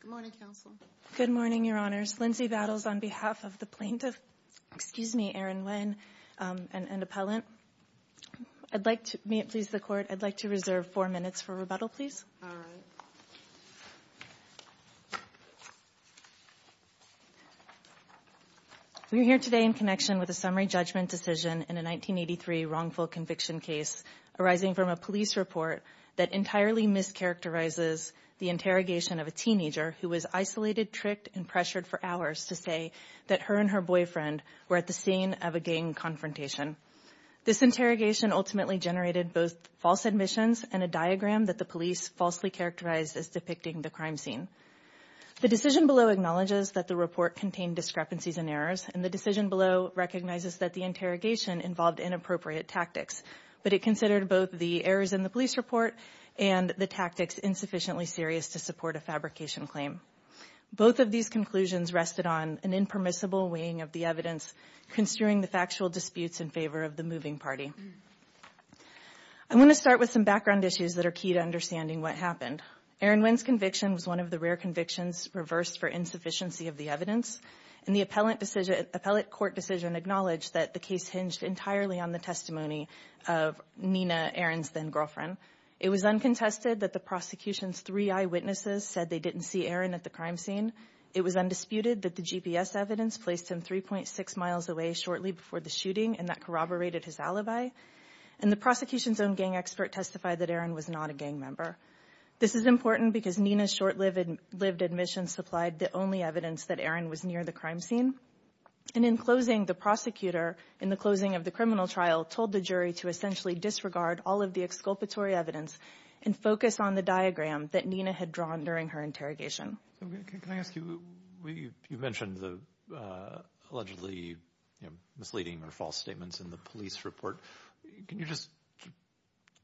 Good morning, Counsel. Good morning, Your Honors. Lindsay Battles on behalf of the plaintiff. Excuse me, Aaron Nguyen, an appellant. May it please the Court, I'd like to reserve four minutes for rebuttal, please. All right. We're here today in connection with a summary judgment decision in a 1983 wrongful conviction case arising from a police report that entirely mischaracterizes the interrogation of a teenager who was isolated, tricked, and pressured for hours to say that her and her boyfriend were at the scene of a gang confrontation. This interrogation ultimately generated both false admissions and a diagram that the police falsely characterized as depicting the crime scene. The decision below acknowledges that the report contained discrepancies and errors, and the decision below recognizes that the interrogation involved inappropriate tactics, but it considered both the errors in the police report and the tactics insufficiently serious to support a fabrication claim. Both of these conclusions rested on an impermissible weighing of the evidence, construing the factual disputes in favor of the moving party. I want to start with some background issues that are key to understanding what happened. Aaron Nguyen's conviction was one of the rare convictions reversed for insufficiency of the evidence, and the appellate court decision acknowledged that the case hinged entirely on the testimony of Nina, Aaron's then-girlfriend. It was uncontested that the prosecution's three eyewitnesses said they didn't see Aaron at the crime scene. It was undisputed that the GPS evidence placed him 3.6 miles away shortly before the shooting, and that corroborated his alibi, and the prosecution's own gang expert testified that Aaron was not a gang member. This is important because Nina's short-lived admission supplied the only evidence that Aaron was near the crime scene. And in closing, the prosecutor, in the closing of the criminal trial, told the jury to essentially disregard all of the exculpatory evidence and focus on the diagram that Nina had drawn during her interrogation. Can I ask you, you mentioned the allegedly misleading or false statements in the police report. Can you just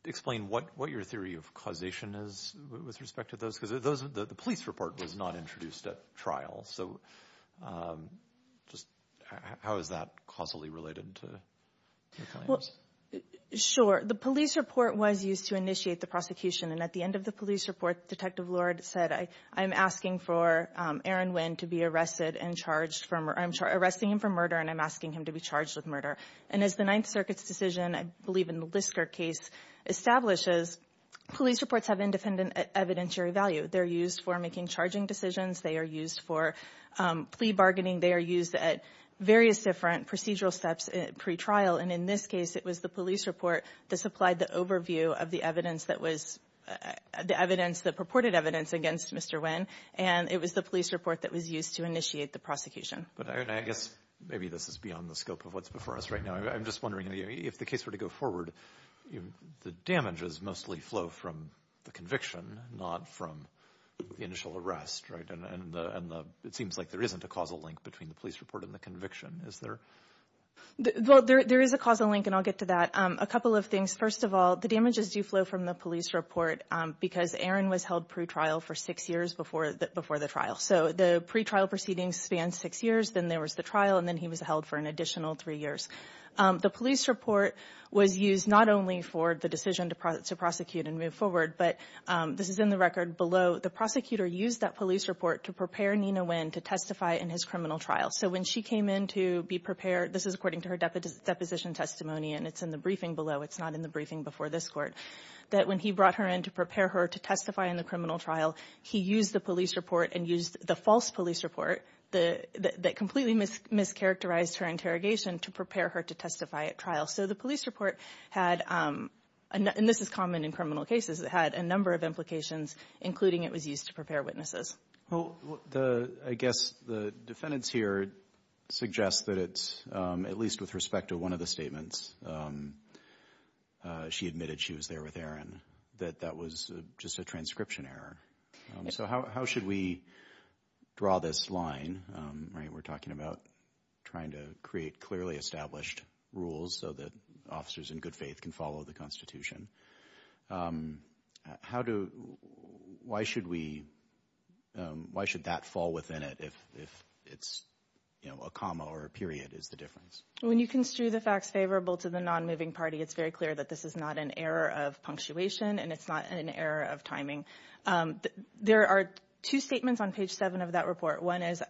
explain what your theory of causation is with respect to those? Because the police report was not introduced at trial. So just how is that causally related to your claims? Well, sure. The police report was used to initiate the prosecution, and at the end of the police report, Detective Lord said, I'm asking for Aaron Nguyen to be arrested and charged for murder. I'm arresting him for murder, and I'm asking him to be charged with murder. And as the Ninth Circuit's decision, I believe in the Lisker case, establishes, police reports have independent evidentiary value. They're used for making charging decisions. They are used for plea bargaining. They are used at various different procedural steps pre-trial. And in this case, it was the police report that supplied the overview of the evidence that was the evidence, the purported evidence against Mr. Nguyen, and it was the police report that was used to initiate the prosecution. But, Erin, I guess maybe this is beyond the scope of what's before us right now. I'm just wondering, if the case were to go forward, the damages mostly flow from the conviction, not from the initial arrest, right? And it seems like there isn't a causal link between the police report and the conviction. Is there? Well, there is a causal link, and I'll get to that. A couple of things. First of all, the damages do flow from the police report because Aaron was held pre-trial for six years before the trial. So the pre-trial proceedings span six years. Then there was the trial, and then he was held for an additional three years. The police report was used not only for the decision to prosecute and move forward, but this is in the record below. The prosecutor used that police report to prepare Nina Nguyen to testify in his criminal trial. So when she came in to be prepared, this is according to her deposition testimony, and it's in the briefing below. It's not in the briefing before this Court, that when he brought her in to prepare her to testify in the criminal trial, he used the police report and used the false police report that completely mischaracterized her interrogation to prepare her to testify at trial. So the police report had, and this is common in criminal cases, it had a number of implications, including it was used to prepare witnesses. Well, I guess the defendants here suggest that it's, at least with respect to one of the statements, she admitted she was there with Aaron, that that was just a transcription error. So how should we draw this line? We're talking about trying to create clearly established rules so that officers in good faith can follow the Constitution. How do, why should we, why should that fall within it if it's a comma or a period is the difference? When you construe the facts favorable to the non-moving party, it's very clear that this is not an error of punctuation and it's not an error of timing. There are two statements on page seven of that report. One is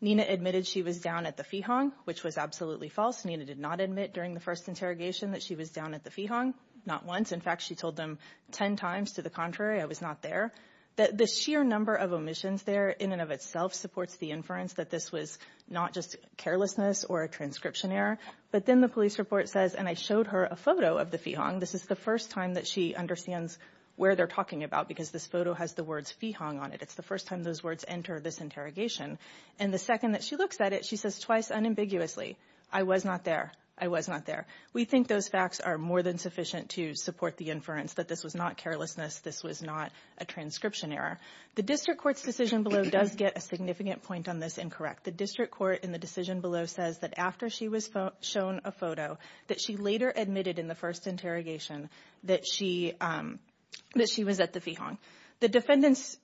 Nina admitted she was down at the Feehong, which was absolutely false. Nina did not admit during the first interrogation that she was down at the Feehong, not once. In fact, she told them 10 times to the contrary, I was not there. The sheer number of omissions there in and of itself supports the inference that this was not just carelessness or a transcription error. But then the police report says, and I showed her a photo of the Feehong. This is the first time that she understands where they're talking about, because this photo has the words Feehong on it. It's the first time those words enter this interrogation. And the second that she looks at it, she says twice unambiguously, I was not there. I was not there. We think those facts are more than sufficient to support the inference that this was not carelessness. This was not a transcription error. The district court's decision below does get a significant point on this incorrect. The district court in the decision below says that after she was shown a photo, that she later admitted in the first interrogation that she was at the Feehong. The defendants,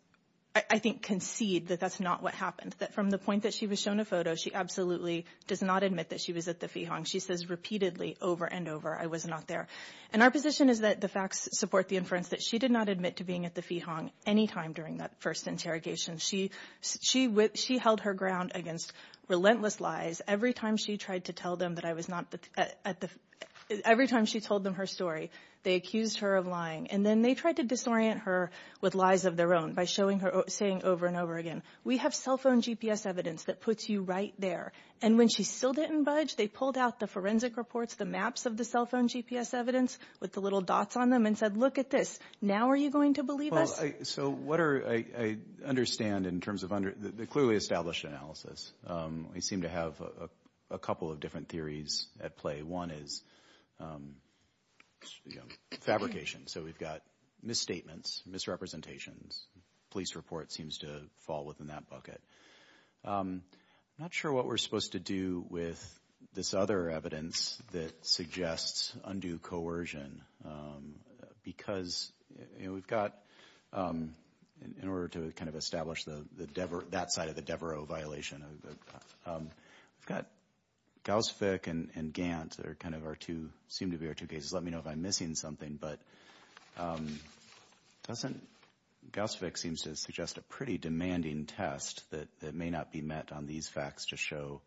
I think, concede that that's not what happened, that from the point that she was shown a photo, she absolutely does not admit that she was at the Feehong. She says repeatedly over and over, I was not there. And our position is that the facts support the inference that she did not admit to being at the Feehong any time during that first interrogation. She held her ground against relentless lies. Every time she tried to tell them that I was not at the – every time she told them her story, they accused her of lying. And then they tried to disorient her with lies of their own by showing her – saying over and over again, we have cell phone GPS evidence that puts you right there. And when she still didn't budge, they pulled out the forensic reports, the maps of the cell phone GPS evidence with the little dots on them and said, look at this. Now are you going to believe us? So what are – I understand in terms of – the clearly established analysis. We seem to have a couple of different theories at play. One is fabrication. So we've got misstatements, misrepresentations. Police report seems to fall within that bucket. I'm not sure what we're supposed to do with this other evidence that suggests undue coercion. Because we've got – in order to kind of establish the – that side of the Devereaux violation, we've got Gauss-Fick and Gant that are kind of our two – seem to be our two cases. Let me know if I'm missing something. But doesn't – Gauss-Fick seems to suggest a pretty demanding test that may not be met on these facts to show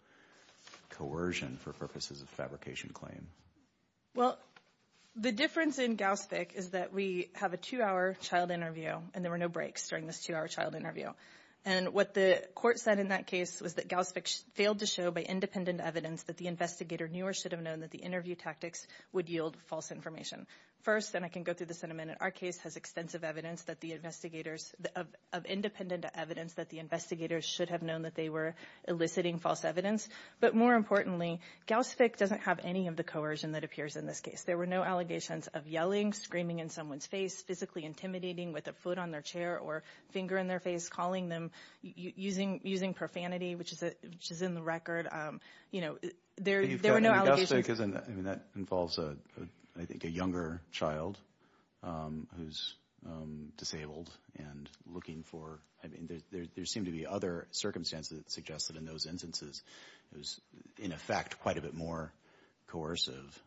coercion for purposes of fabrication claim. Well, the difference in Gauss-Fick is that we have a two-hour child interview, and there were no breaks during this two-hour child interview. And what the court said in that case was that Gauss-Fick failed to show by independent evidence that the investigator knew or should have known that the interview tactics would yield false information. First – and I can go through this in a minute – our case has extensive evidence that the investigators – of independent evidence that the investigators should have known that they were eliciting false evidence. But more importantly, Gauss-Fick doesn't have any of the coercion that appears in this case. There were no allegations of yelling, screaming in someone's face, physically intimidating with a foot on their chair or finger in their face, calling them – using profanity, which is in the record. There were no allegations. But Gauss-Fick isn't – I mean, that involves, I think, a younger child who's disabled and looking for – I mean, there seemed to be other circumstances that suggested in those instances it was, in effect, quite a bit more coercive.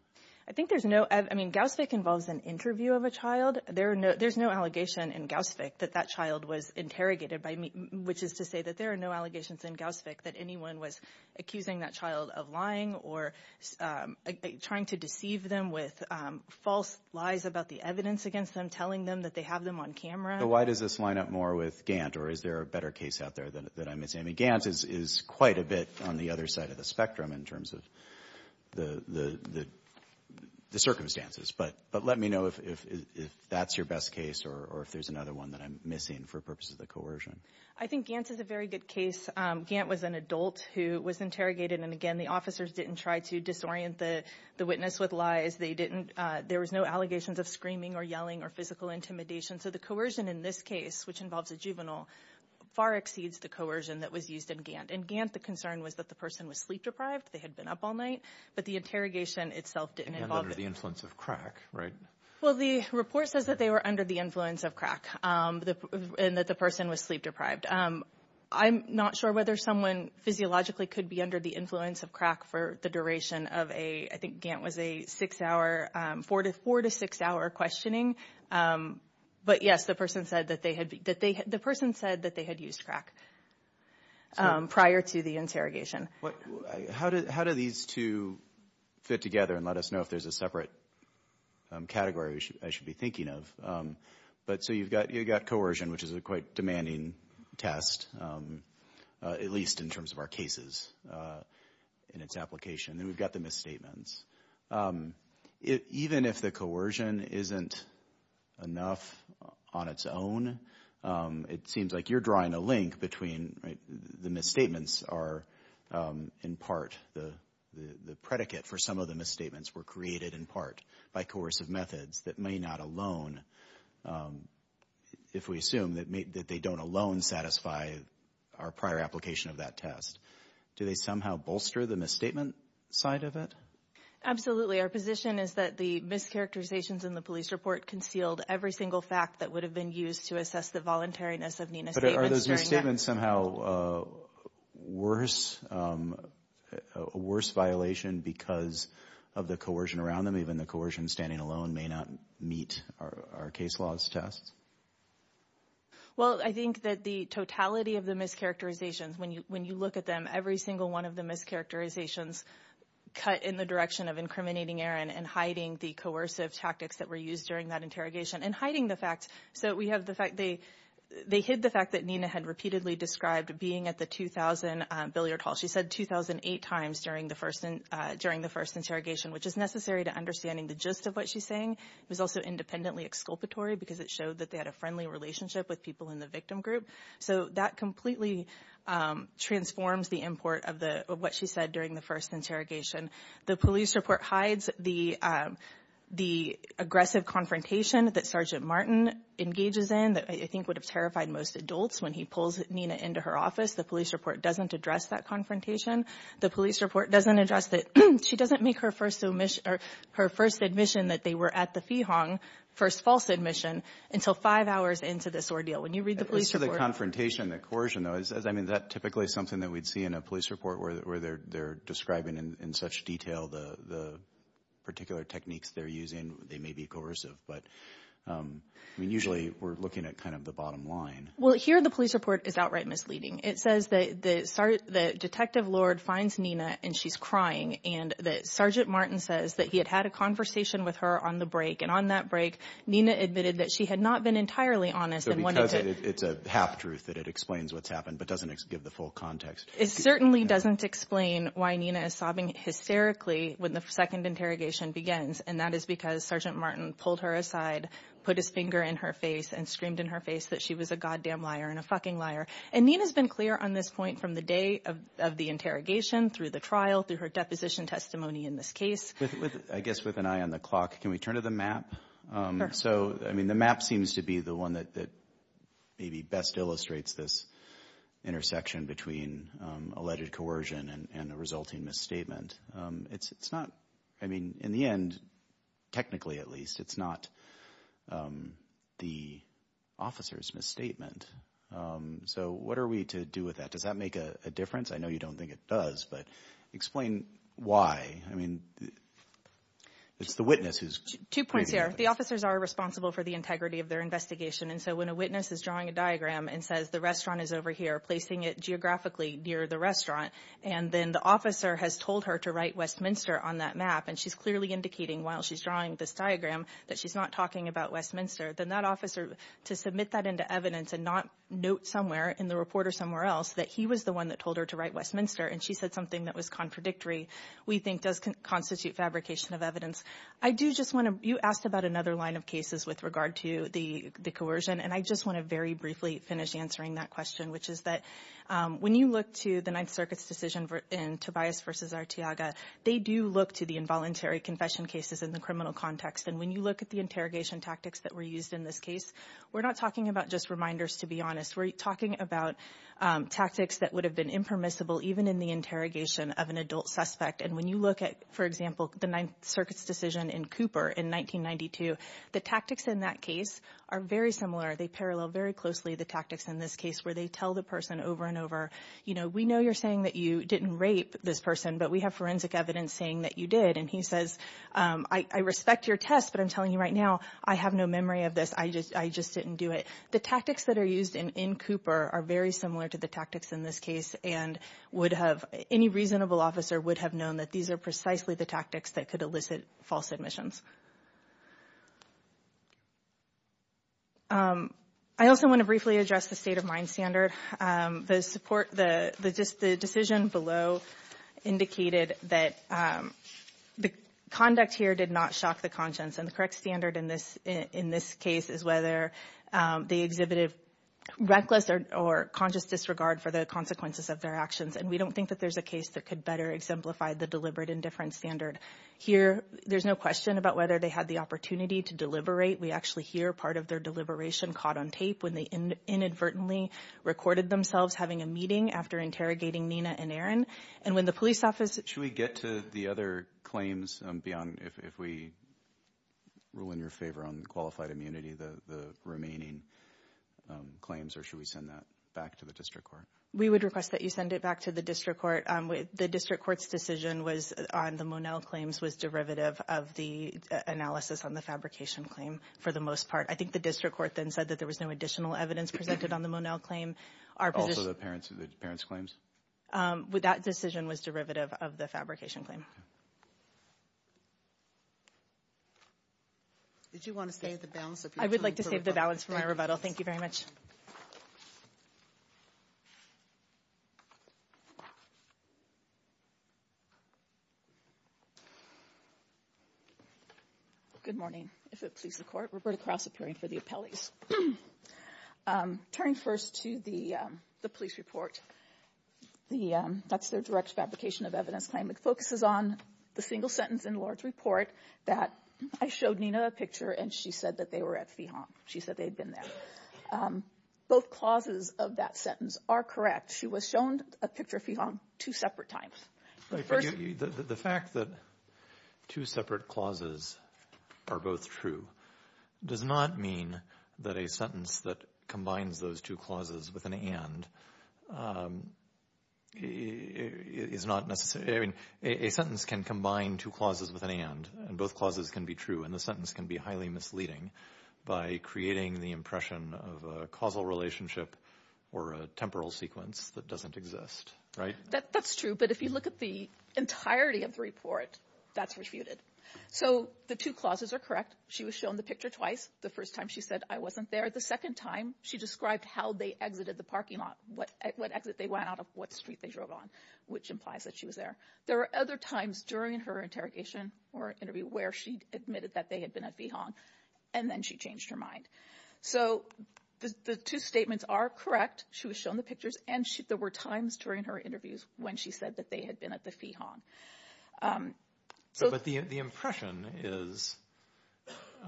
I think there's no – I mean, Gauss-Fick involves an interview of a child. There's no allegation in Gauss-Fick that that child was interrogated by – which is to say that there are no allegations in Gauss-Fick that anyone was accusing that child of lying or trying to deceive them with false lies about the evidence against them, telling them that they have them on camera. But why does this line up more with Gantt, or is there a better case out there that I'm missing? I mean, Gantt is quite a bit on the other side of the spectrum in terms of the circumstances. But let me know if that's your best case or if there's another one that I'm missing for purposes of the coercion. I think Gantt is a very good case. Gantt was an adult who was interrogated. And again, the officers didn't try to disorient the witness with lies. They didn't – there was no allegations of screaming or yelling or physical intimidation. So the coercion in this case, which involves a juvenile, far exceeds the coercion that was used in Gantt. In Gantt, the concern was that the person was sleep-deprived. They had been up all night. But the interrogation itself didn't involve it. And under the influence of crack, right? Well, the report says that they were under the influence of crack and that the person was sleep-deprived. I'm not sure whether someone physiologically could be under the influence of crack for the duration of a – I think Gantt was a six-hour – four to six-hour questioning. But, yes, the person said that they had – the person said that they had used crack prior to the interrogation. How do these two fit together and let us know if there's a separate category I should be thinking of? But so you've got coercion, which is a quite demanding test, at least in terms of our cases in its application. Then we've got the misstatements. Even if the coercion isn't enough on its own, it seems like you're drawing a link between – the misstatements are in part – the predicate for some of the misstatements were created in part by coercive methods that may not alone – if we assume that they don't alone satisfy our prior application of that test. Do they somehow bolster the misstatement side of it? Our position is that the mischaracterizations in the police report concealed every single fact that would have been used to assess the voluntariness of Nina's statements. But are those misstatements somehow a worse violation because of the coercion around them? Even the coercion standing alone may not meet our case laws test. Well, I think that the totality of the mischaracterizations, when you look at them, every single one of the mischaracterizations cut in the direction of incriminating Aaron and hiding the coercive tactics that were used during that interrogation and hiding the fact – so we have the fact – they hid the fact that Nina had repeatedly described being at the 2,000 billiard hall. She said 2,008 times during the first interrogation, which is necessary to understanding the gist of what she's saying. It was also independently exculpatory because it showed that they had a friendly relationship with people in the victim group. So that completely transforms the import of what she said during the first interrogation. The police report hides the aggressive confrontation that Sergeant Martin engages in that I think would have terrified most adults when he pulls Nina into her office. The police report doesn't address that confrontation. The police report doesn't address that – she doesn't make her first admission that they were at the Feehong, first false admission, until five hours into this ordeal. When you read the police report – It's the confrontation, the coercion, though. I mean, that's typically something that we'd see in a police report where they're describing in such detail the particular techniques they're using. They may be coercive, but, I mean, usually we're looking at kind of the bottom line. Well, here the police report is outright misleading. It says that Detective Lord finds Nina, and she's crying, and that Sergeant Martin says that he had had a conversation with her on the break, and on that break Nina admitted that she had not been entirely honest. So because it's a half-truth that it explains what's happened but doesn't give the full context. It certainly doesn't explain why Nina is sobbing hysterically when the second interrogation begins, and that is because Sergeant Martin pulled her aside, put his finger in her face, and screamed in her face that she was a goddamn liar and a fucking liar. And Nina's been clear on this point from the day of the interrogation, through the trial, through her deposition testimony in this case. I guess with an eye on the clock, can we turn to the map? So, I mean, the map seems to be the one that maybe best illustrates this intersection between alleged coercion and a resulting misstatement. It's not – I mean, in the end, technically at least, it's not the officer's misstatement. So what are we to do with that? Does that make a difference? I know you don't think it does, but explain why. I mean, it's the witness who's creating it. Two points here. The officers are responsible for the integrity of their investigation, and so when a witness is drawing a diagram and says the restaurant is over here, placing it geographically near the restaurant, and then the officer has told her to write Westminster on that map, and she's clearly indicating while she's drawing this diagram that she's not talking about Westminster, then that officer, to submit that into evidence and not note somewhere in the report or somewhere else that he was the one that told her to write Westminster and she said something that was contradictory, we think does constitute fabrication of evidence. I do just want to – you asked about another line of cases with regard to the coercion, and I just want to very briefly finish answering that question, which is that when you look to the Ninth Circuit's decision in Tobias v. Arteaga, they do look to the involuntary confession cases in the criminal context. And when you look at the interrogation tactics that were used in this case, we're not talking about just reminders, to be honest. We're talking about tactics that would have been impermissible even in the interrogation of an adult suspect. And when you look at, for example, the Ninth Circuit's decision in Cooper in 1992, the tactics in that case are very similar. They parallel very closely the tactics in this case where they tell the person over and over, you know, we know you're saying that you didn't rape this person, but we have forensic evidence saying that you did. And he says, I respect your test, but I'm telling you right now, I have no memory of this. I just didn't do it. The tactics that are used in Cooper are very similar to the tactics in this case and would have – any reasonable officer would have known that these are precisely the tactics that could elicit false admissions. I also want to briefly address the state-of-mind standard. The support – just the decision below indicated that the conduct here did not shock the conscience. And the correct standard in this case is whether they exhibited reckless or conscious disregard for the consequences of their actions. And we don't think that there's a case that could better exemplify the deliberate indifference standard. Here, there's no question about whether they had the opportunity to deliberate. We actually hear part of their deliberation caught on tape when they inadvertently recorded themselves having a meeting after interrogating Nina and Aaron. And when the police office – Should we get to the other claims beyond – if we rule in your favor on qualified immunity, the remaining claims, or should we send that back to the district court? We would request that you send it back to the district court. The district court's decision on the Monell claims was derivative of the analysis on the fabrication claim for the most part. I think the district court then said that there was no additional evidence presented on the Monell claim. Also the parents' claims? That decision was derivative of the fabrication claim. Did you want to save the balance? I would like to save the balance for my rebuttal. Thank you very much. Good morning, if it pleases the court. Roberta Krause, appearing for the appellees. Turning first to the police report, that's their direct fabrication of evidence claim. It focuses on the single sentence in Lord's report that I showed Nina a picture, and she said that they were at Feehom. She said they had been there. Both clauses of that sentence are correct. She was shown a picture of Feehom two separate times. The fact that two separate clauses are both true does not mean that a sentence that combines those two clauses with an and is not necessary. A sentence can combine two clauses with an and, and both clauses can be true, and the sentence can be highly misleading by creating the impression of a causal relationship or a temporal sequence that doesn't exist, right? That's true, but if you look at the entirety of the report, that's refuted. So the two clauses are correct. She was shown the picture twice. The first time she said, I wasn't there. The second time she described how they exited the parking lot, what exit they went out of, what street they drove on, which implies that she was there. There were other times during her interrogation or interview where she admitted that they had been at Feehom, and then she changed her mind. So the two statements are correct. She was shown the pictures, and there were times during her interviews when she said that they had been at the Feehom. But the impression is,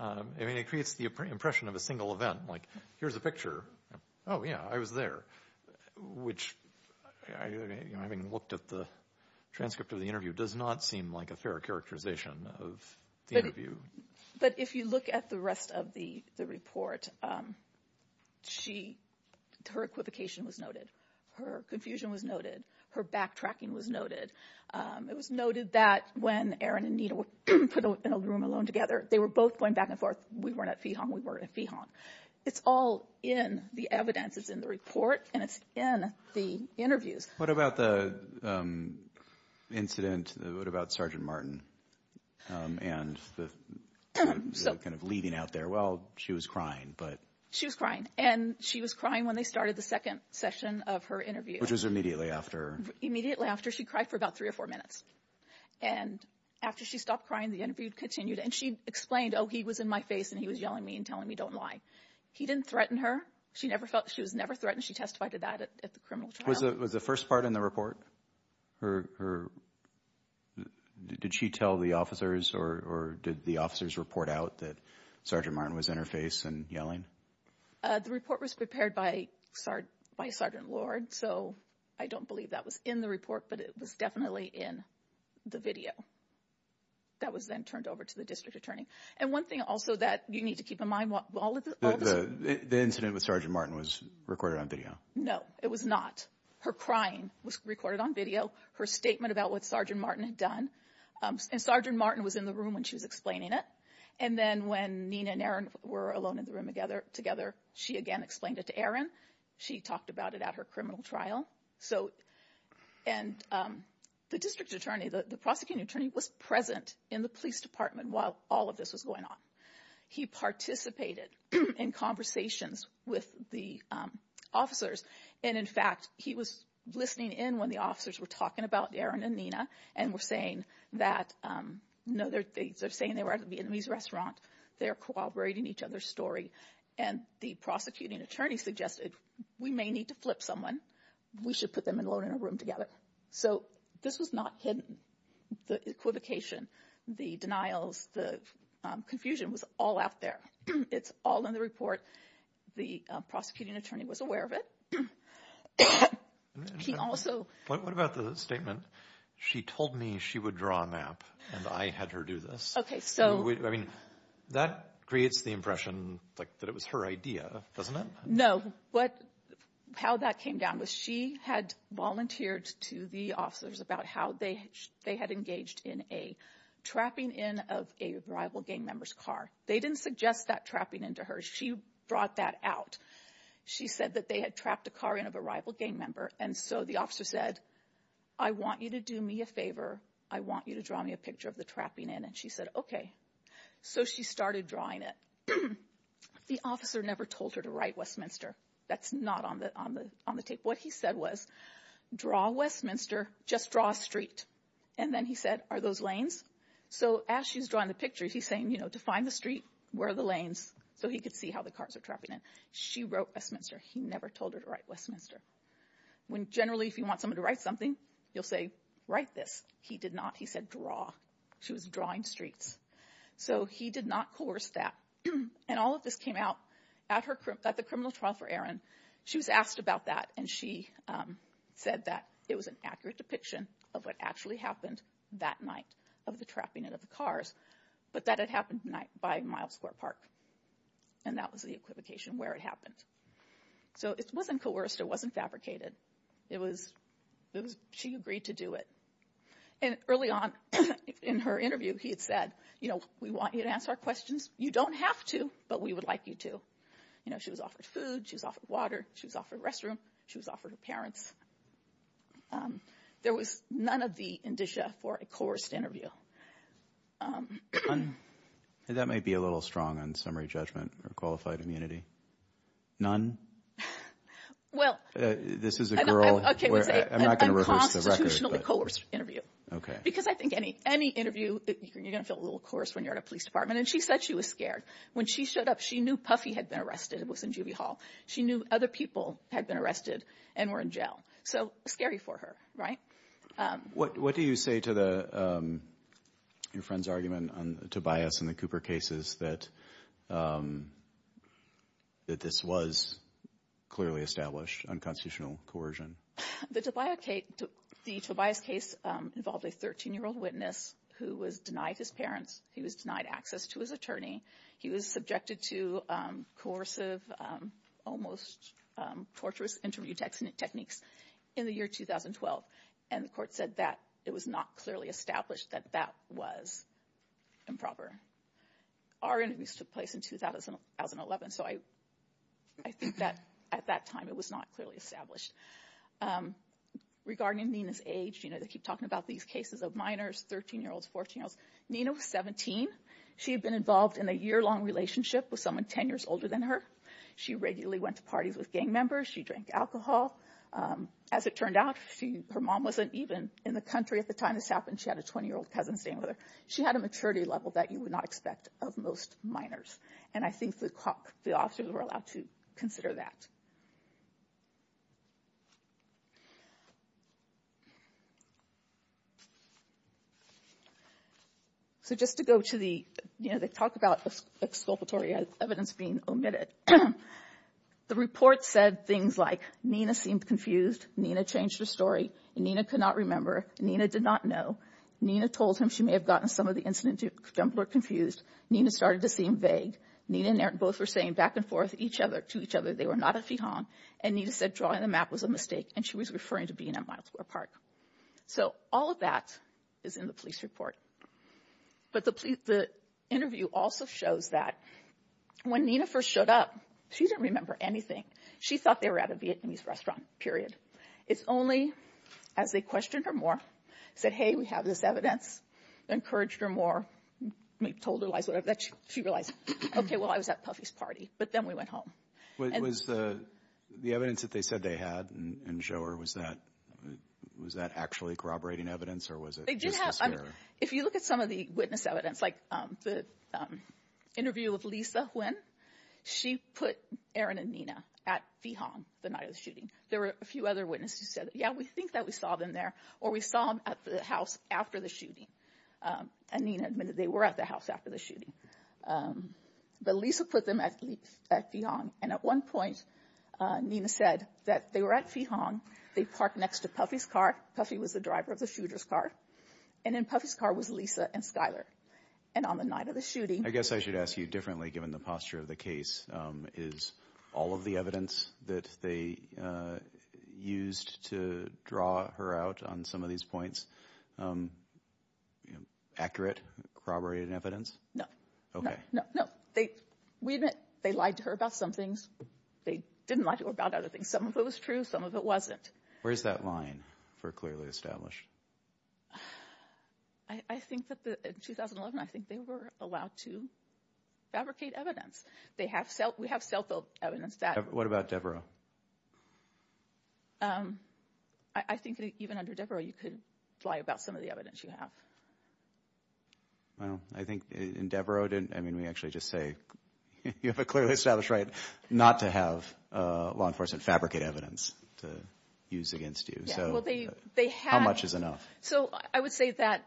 I mean, it creates the impression of a single event. Like, here's a picture. Oh, yeah, I was there. Which, having looked at the transcript of the interview, does not seem like a fair characterization of the interview. But if you look at the rest of the report, her equivocation was noted. Her confusion was noted. Her backtracking was noted. It was noted that when Aaron and Nita were put in a room alone together, they were both going back and forth, we weren't at Feehom, we weren't at Feehom. It's all in the evidence. It's in the report, and it's in the interviews. What about the incident? What about Sergeant Martin and the kind of leaving out there? Well, she was crying. She was crying. And she was crying when they started the second session of her interview. Which was immediately after. Immediately after. She cried for about three or four minutes. And after she stopped crying, the interview continued. And she explained, oh, he was in my face, and he was yelling at me and telling me, don't lie. He didn't threaten her. She was never threatened. She testified to that at the criminal trial. Was the first part in the report? Did she tell the officers, or did the officers report out that Sergeant Martin was in her face and yelling? The report was prepared by Sergeant Lord. So I don't believe that was in the report, but it was definitely in the video. That was then turned over to the district attorney. And one thing also that you need to keep in mind. The incident with Sergeant Martin was recorded on video. No, it was not. Her crying was recorded on video. Her statement about what Sergeant Martin had done. And Sergeant Martin was in the room when she was explaining it. And then when Nina and Aaron were alone in the room together, she again explained it to Aaron. She talked about it at her criminal trial. And the district attorney, the prosecuting attorney, was present in the police department while all of this was going on. He participated in conversations with the officers. And, in fact, he was listening in when the officers were talking about Aaron and Nina and were saying that, no, they're saying they were at a Vietnamese restaurant. They're corroborating each other's story. And the prosecuting attorney suggested, we may need to flip someone. We should put them alone in a room together. So this was not hidden. The equivocation, the denials, the confusion was all out there. It's all in the report. The prosecuting attorney was aware of it. What about the statement, she told me she would draw a map and I had her do this? That creates the impression that it was her idea, doesn't it? No, how that came down was she had volunteered to the officers about how they had engaged in a trapping in of a rival gang member's car. They didn't suggest that trapping in to her. She brought that out. She said that they had trapped a car in of a rival gang member. And so the officer said, I want you to do me a favor. I want you to draw me a picture of the trapping in. And then she said, okay. So she started drawing it. The officer never told her to write Westminster. That's not on the tape. What he said was, draw Westminster, just draw a street. And then he said, are those lanes? So as she's drawing the picture, he's saying, you know, to find the street, where are the lanes? So he could see how the cars are trapping in. She wrote Westminster. He never told her to write Westminster. When generally if you want someone to write something, you'll say, write this. He did not. He said, draw. She was drawing streets. So he did not coerce that. And all of this came out at the criminal trial for Erin. She was asked about that, and she said that it was an accurate depiction of what actually happened that night of the trapping of the cars, but that it happened by Mile Square Park. And that was the equivocation where it happened. So it wasn't coerced. It wasn't fabricated. It was she agreed to do it. And early on in her interview, he had said, you know, we want you to answer our questions. You don't have to, but we would like you to. You know, she was offered food. She was offered water. She was offered a restroom. She was offered her parents. There was none of the indicia for a coerced interview. That may be a little strong on summary judgment or qualified immunity. None? This is a girl. Unconstitutionally coerced interview. Because I think any interview, you're going to feel a little coerced when you're at a police department. And she said she was scared. When she showed up, she knew Puffy had been arrested. It was in Juby Hall. She knew other people had been arrested and were in jail. So scary for her, right? What do you say to your friend's argument, Tobias, in the Cooper cases that this was clearly established, unconstitutional coercion? The Tobias case involved a 13-year-old witness who was denied his parents. He was denied access to his attorney. He was subjected to coercive, almost torturous interview techniques in the year 2012. And the court said that it was not clearly established that that was improper. Our interviews took place in 2011, so I think that at that time it was not clearly established. Regarding Nina's age, they keep talking about these cases of minors, 13-year-olds, 14-year-olds. Nina was 17. She had been involved in a year-long relationship with someone 10 years older than her. She regularly went to parties with gang members. She drank alcohol. As it turned out, her mom wasn't even in the country at the time this happened. She had a 20-year-old cousin staying with her. She had a maturity level that you would not expect of most minors. And I think the officers were allowed to consider that. So just to go to the talk about exculpatory evidence being omitted, the report said things like, Nina seemed confused. Nina changed her story. Nina could not remember. Nina did not know. Nina told him she may have gotten some of the incident jumped or confused. Nina started to seem vague. Nina and Eric both were saying back and forth to each other they were not a Fijon. And Nina said drawing the map was a mistake. And she was referring to being at Miles Square Park. So all of that is in the police report. But the interview also shows that when Nina first showed up, she didn't remember anything. She thought they were at a Vietnamese restaurant, period. It's only as they questioned her more, said, hey, we have this evidence, encouraged her more, told her lies. She realized, okay, well, I was at Puffy's party. But then we went home. Was the evidence that they said they had and show her, was that actually corroborating evidence? If you look at some of the witness evidence, like the interview with Lisa Huynh, she put Aaron and Nina at Fijon the night of the shooting. There were a few other witnesses who said, yeah, we think that we saw them there or we saw them at the house after the shooting. And Nina admitted they were at the house after the shooting. But Lisa put them at Fijon. And at one point, Nina said that they were at Fijon. They parked next to Puffy's car. Puffy was the driver of the shooter's car. And in Puffy's car was Lisa and Skyler. And on the night of the shooting. I guess I should ask you differently given the posture of the case. Is all of the evidence that they used to draw her out on some of these points accurate? Corroborated evidence? No. No. We admit they lied to her about some things. They didn't lie to her about other things. Some of it was true. Some of it wasn't. Where's that line for clearly established? I think that in 2011, I think they were allowed to fabricate evidence. We have self-evidence. What about Devereux? I think even under Devereux, you could lie about some of the evidence you have. I think in Devereux, we actually just say you have a clearly established right not to have law enforcement fabricate evidence to use against you. How much is enough? So I would say that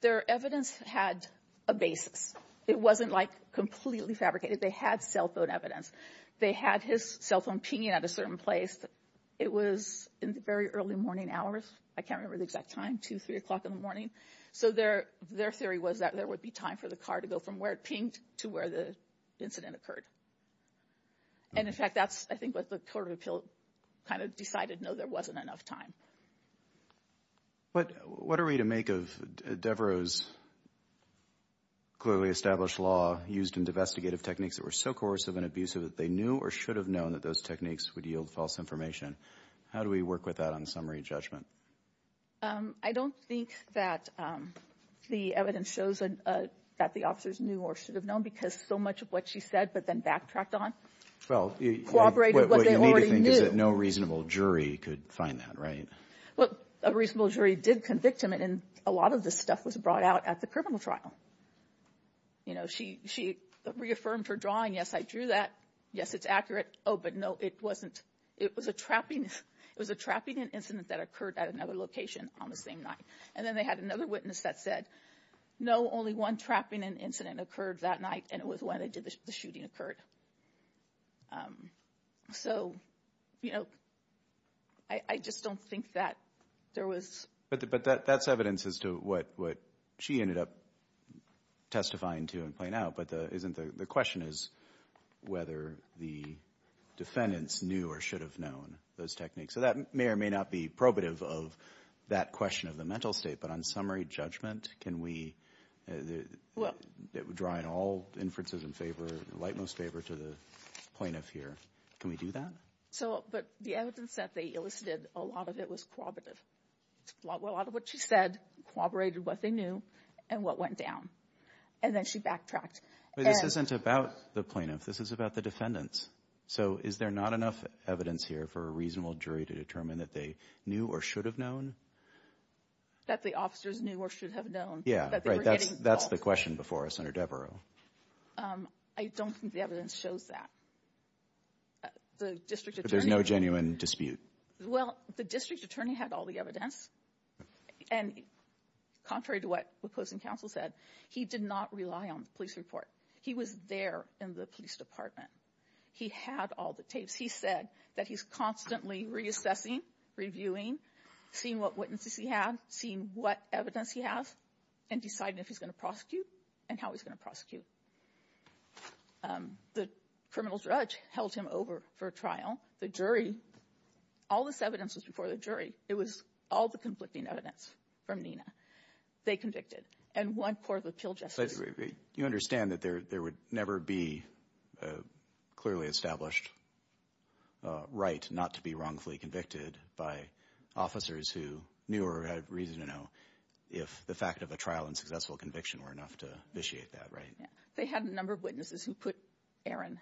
their evidence had a basis. It wasn't like completely fabricated. They had cell phone evidence. They had his cell phone pinging at a certain place. It was in the very early morning hours. I can't remember the exact time, 2, 3 o'clock in the morning. So their theory was that there would be time for the car to go from where it pinged to where the incident occurred. And, in fact, that's I think what the court of appeal kind of decided, no, there wasn't enough time. What are we to make of Devereux's clearly established law used in investigative techniques that were so coercive and abusive that they knew or should have known that those techniques would yield false information? How do we work with that on summary judgment? I don't think that the evidence shows that the officers knew or should have known because so much of what she said but then backtracked on cooperated with what they already knew. So no reasonable jury could find that, right? Well, a reasonable jury did convict him, and a lot of this stuff was brought out at the criminal trial. You know, she reaffirmed her drawing. Yes, I drew that. Yes, it's accurate. Oh, but no, it wasn't. It was a trapping incident that occurred at another location on the same night. And then they had another witness that said, no, only one trapping incident occurred that night, and it was when the shooting occurred. So, you know, I just don't think that there was. But that's evidence as to what she ended up testifying to and playing out, but the question is whether the defendants knew or should have known those techniques. So that may or may not be probative of that question of the mental state, but on summary judgment, can we draw in all inferences in favor, the light most favor to the plaintiff here? Can we do that? But the evidence that they elicited, a lot of it was cooperative. A lot of what she said corroborated what they knew and what went down, and then she backtracked. But this isn't about the plaintiff. This is about the defendants. So is there not enough evidence here for a reasonable jury to determine that they knew or should have known? That the officers knew or should have known. Yeah, right. That's the question before us, Senator Devereux. I don't think the evidence shows that. There's no genuine dispute. Well, the district attorney had all the evidence, and contrary to what the opposing counsel said, he did not rely on the police report. He was there in the police department. He had all the tapes. He said that he's constantly reassessing, reviewing, seeing what witnesses he had, seeing what evidence he has, and deciding if he's going to prosecute and how he's going to prosecute. The criminal judge held him over for a trial. The jury, all this evidence was before the jury. It was all the conflicting evidence from Nina they convicted and one court of appeal justice. You understand that there would never be a clearly established right not to be wrongfully convicted by officers who knew or had reason to know if the fact of a trial and successful conviction were enough to vitiate that, right? They had a number of witnesses who put Aaron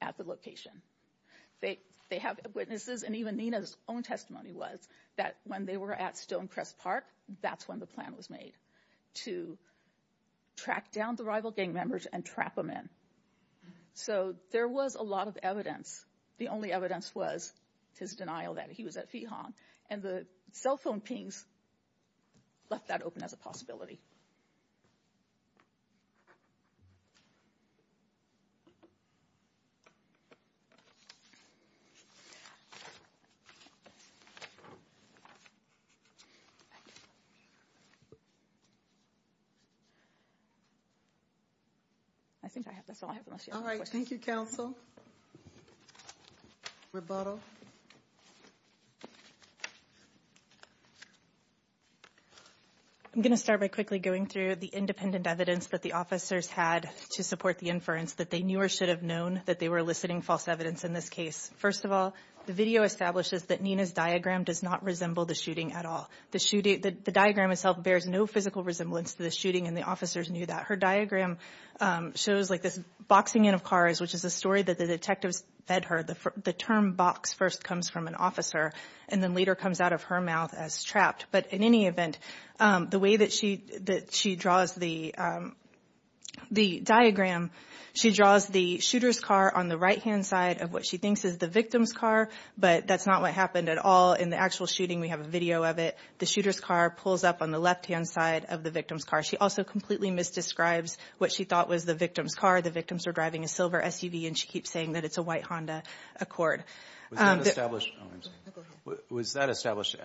at the location. They have witnesses, and even Nina's own testimony was that when they were at Stonecrest Park, that's when the plan was made to track down the rival gang members and trap them in. So there was a lot of evidence. The only evidence was his denial that he was at Fee Hong, and the cell phone pings left that open as a possibility. I think that's all I have. All right. Thank you, counsel. Rebuttal. I'm going to start by quickly going through the independent evidence that the officers had to support the inference that they knew or should have known that they were eliciting false evidence in this case. First of all, the video establishes that Nina's diagram does not resemble the shooting at all. The diagram itself bears no physical resemblance to the shooting, and the officers knew that. Her diagram shows this boxing in of cars, which is a story that the detectives fed her. The term box first comes from an officer and then later comes out of her mouth as trapped. But in any event, the way that she draws the diagram, she draws the shooter's car on the right-hand side of what she thinks is the victim's car, but that's not what happened at all in the actual shooting. We have a video of it. The shooter's car pulls up on the left-hand side of the victim's car. She also completely misdescribes what she thought was the victim's car. The victims were driving a silver SUV, and she keeps saying that it's a white Honda Accord. Was that established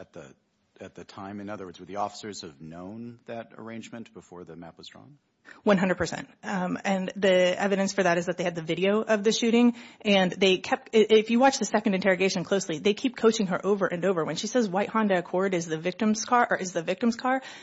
at the time? In other words, would the officers have known that arrangement before the map was drawn? 100 percent. And the evidence for that is that they had the video of the shooting. If you watch the second interrogation closely, they keep coaching her over and over. When she says white Honda Accord is the victim's car,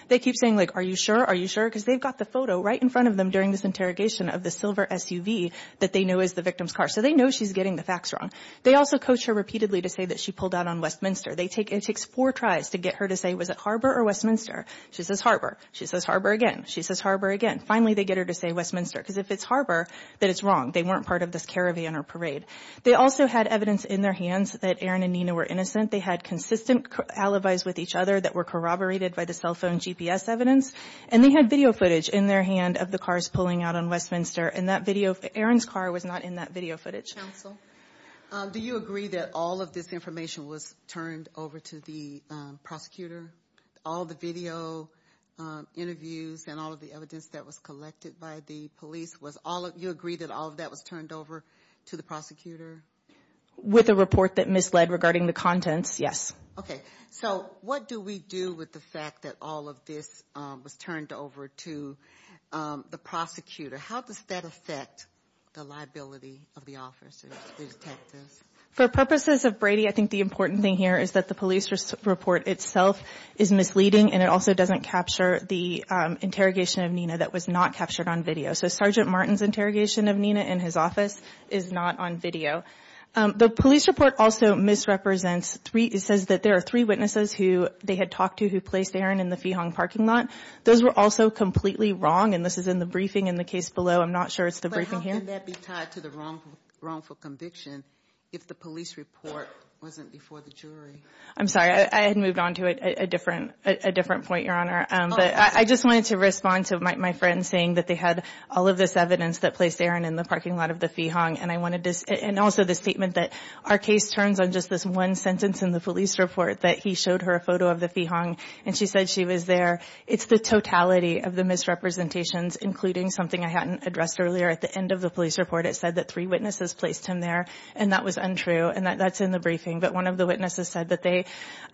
they keep saying, like, are you sure, are you sure? Because they've got the photo right in front of them during this interrogation of the silver SUV that they know is the victim's car. So they know she's getting the facts wrong. They also coach her repeatedly to say that she pulled out on Westminster. It takes four tries to get her to say, was it Harbor or Westminster? She says Harbor. She says Harbor again. She says Harbor again. Finally, they get her to say Westminster, because if it's Harbor, then it's wrong. They weren't part of this caravan or parade. They also had evidence in their hands that Erin and Nina were innocent. They had consistent alibis with each other that were corroborated by the cell phone GPS evidence. And they had video footage in their hand of the cars pulling out on Westminster. And that video of Erin's car was not in that video footage. Counsel, do you agree that all of this information was turned over to the prosecutor? All the video interviews and all of the evidence that was collected by the police, you agree that all of that was turned over to the prosecutor? With a report that misled regarding the contents, yes. Okay. So what do we do with the fact that all of this was turned over to the prosecutor? How does that affect the liability of the officers, the detectives? For purposes of Brady, I think the important thing here is that the police report itself is misleading, and it also doesn't capture the interrogation of Nina that was not captured on video. So Sergeant Martin's interrogation of Nina in his office is not on video. The police report also misrepresents three, it says that there are three witnesses who they had talked to who placed Erin in the Feehong parking lot. Those were also completely wrong, and this is in the briefing in the case below. I'm not sure it's the briefing here. But how can that be tied to the wrongful conviction if the police report wasn't before the jury? I'm sorry. I had moved on to a different point, Your Honor. But I just wanted to respond to my friend saying that they had all of this evidence that placed Erin in the parking lot of the Feehong, and also the statement that our case turns on just this one sentence in the police report that he showed her a photo of the Feehong, and she said she was there. It's the totality of the misrepresentations, including something I hadn't addressed earlier. At the end of the police report, it said that three witnesses placed him there, and that was untrue, and that's in the briefing. But one of the witnesses said that they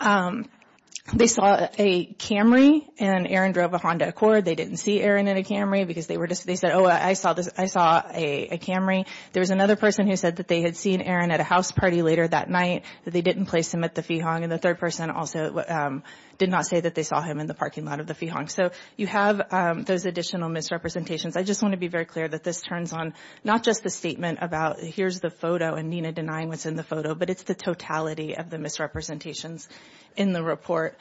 saw a Camry, and Erin drove a Honda Accord. They didn't see Erin in a Camry because they said, oh, I saw a Camry. There was another person who said that they had seen Erin at a house party later that night, that they didn't place him at the Feehong, and the third person also did not say that they saw him in the parking lot of the Feehong. So you have those additional misrepresentations. I just want to be very clear that this turns on not just the statement about here's the photo and Nina denying what's in the photo, but it's the totality of the misrepresentations in the report.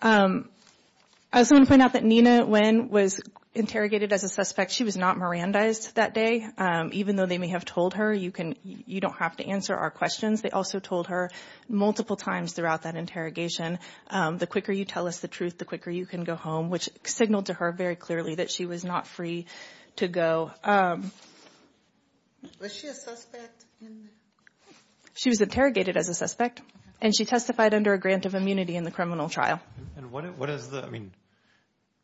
I also want to point out that Nina, when was interrogated as a suspect, she was not Mirandized that day, even though they may have told her, you don't have to answer our questions. They also told her multiple times throughout that interrogation, the quicker you tell us the truth, the quicker you can go home, which signaled to her very clearly that she was not free to go. Was she a suspect? She was interrogated as a suspect, and she testified under a grant of immunity in the criminal trial. And what is the, I mean,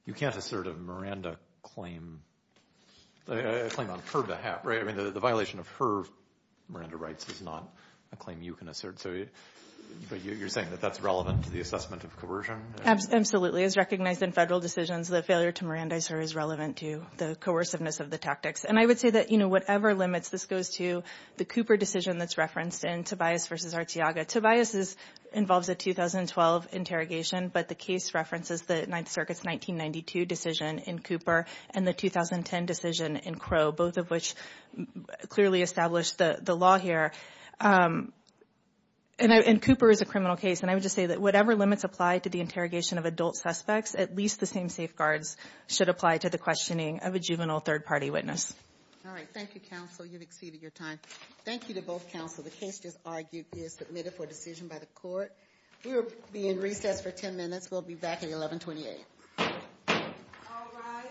you can't assert a Miranda claim, a claim on her behalf, right? I mean, the violation of her Miranda rights is not a claim you can assert. So you're saying that that's relevant to the assessment of coercion? Absolutely. As recognized in federal decisions, the failure to Mirandize her is relevant to the coerciveness of the tactics. And I would say that, you know, whatever limits, this goes to the Cooper decision that's referenced in Tobias v. Arteaga. Tobias involves a 2012 interrogation, but the case references the Ninth Circuit's 1992 decision in Cooper and the 2010 decision in Crow, both of which clearly established the law here. And Cooper is a criminal case, and I would just say that whatever limits apply to the interrogation of adult suspects, at least the same safeguards should apply to the questioning of a juvenile third-party witness. All right. Thank you, counsel. You've exceeded your time. Thank you to both counsel. The case just argued is submitted for decision by the court. We will be in recess for 10 minutes. We'll be back at 1128. All rise.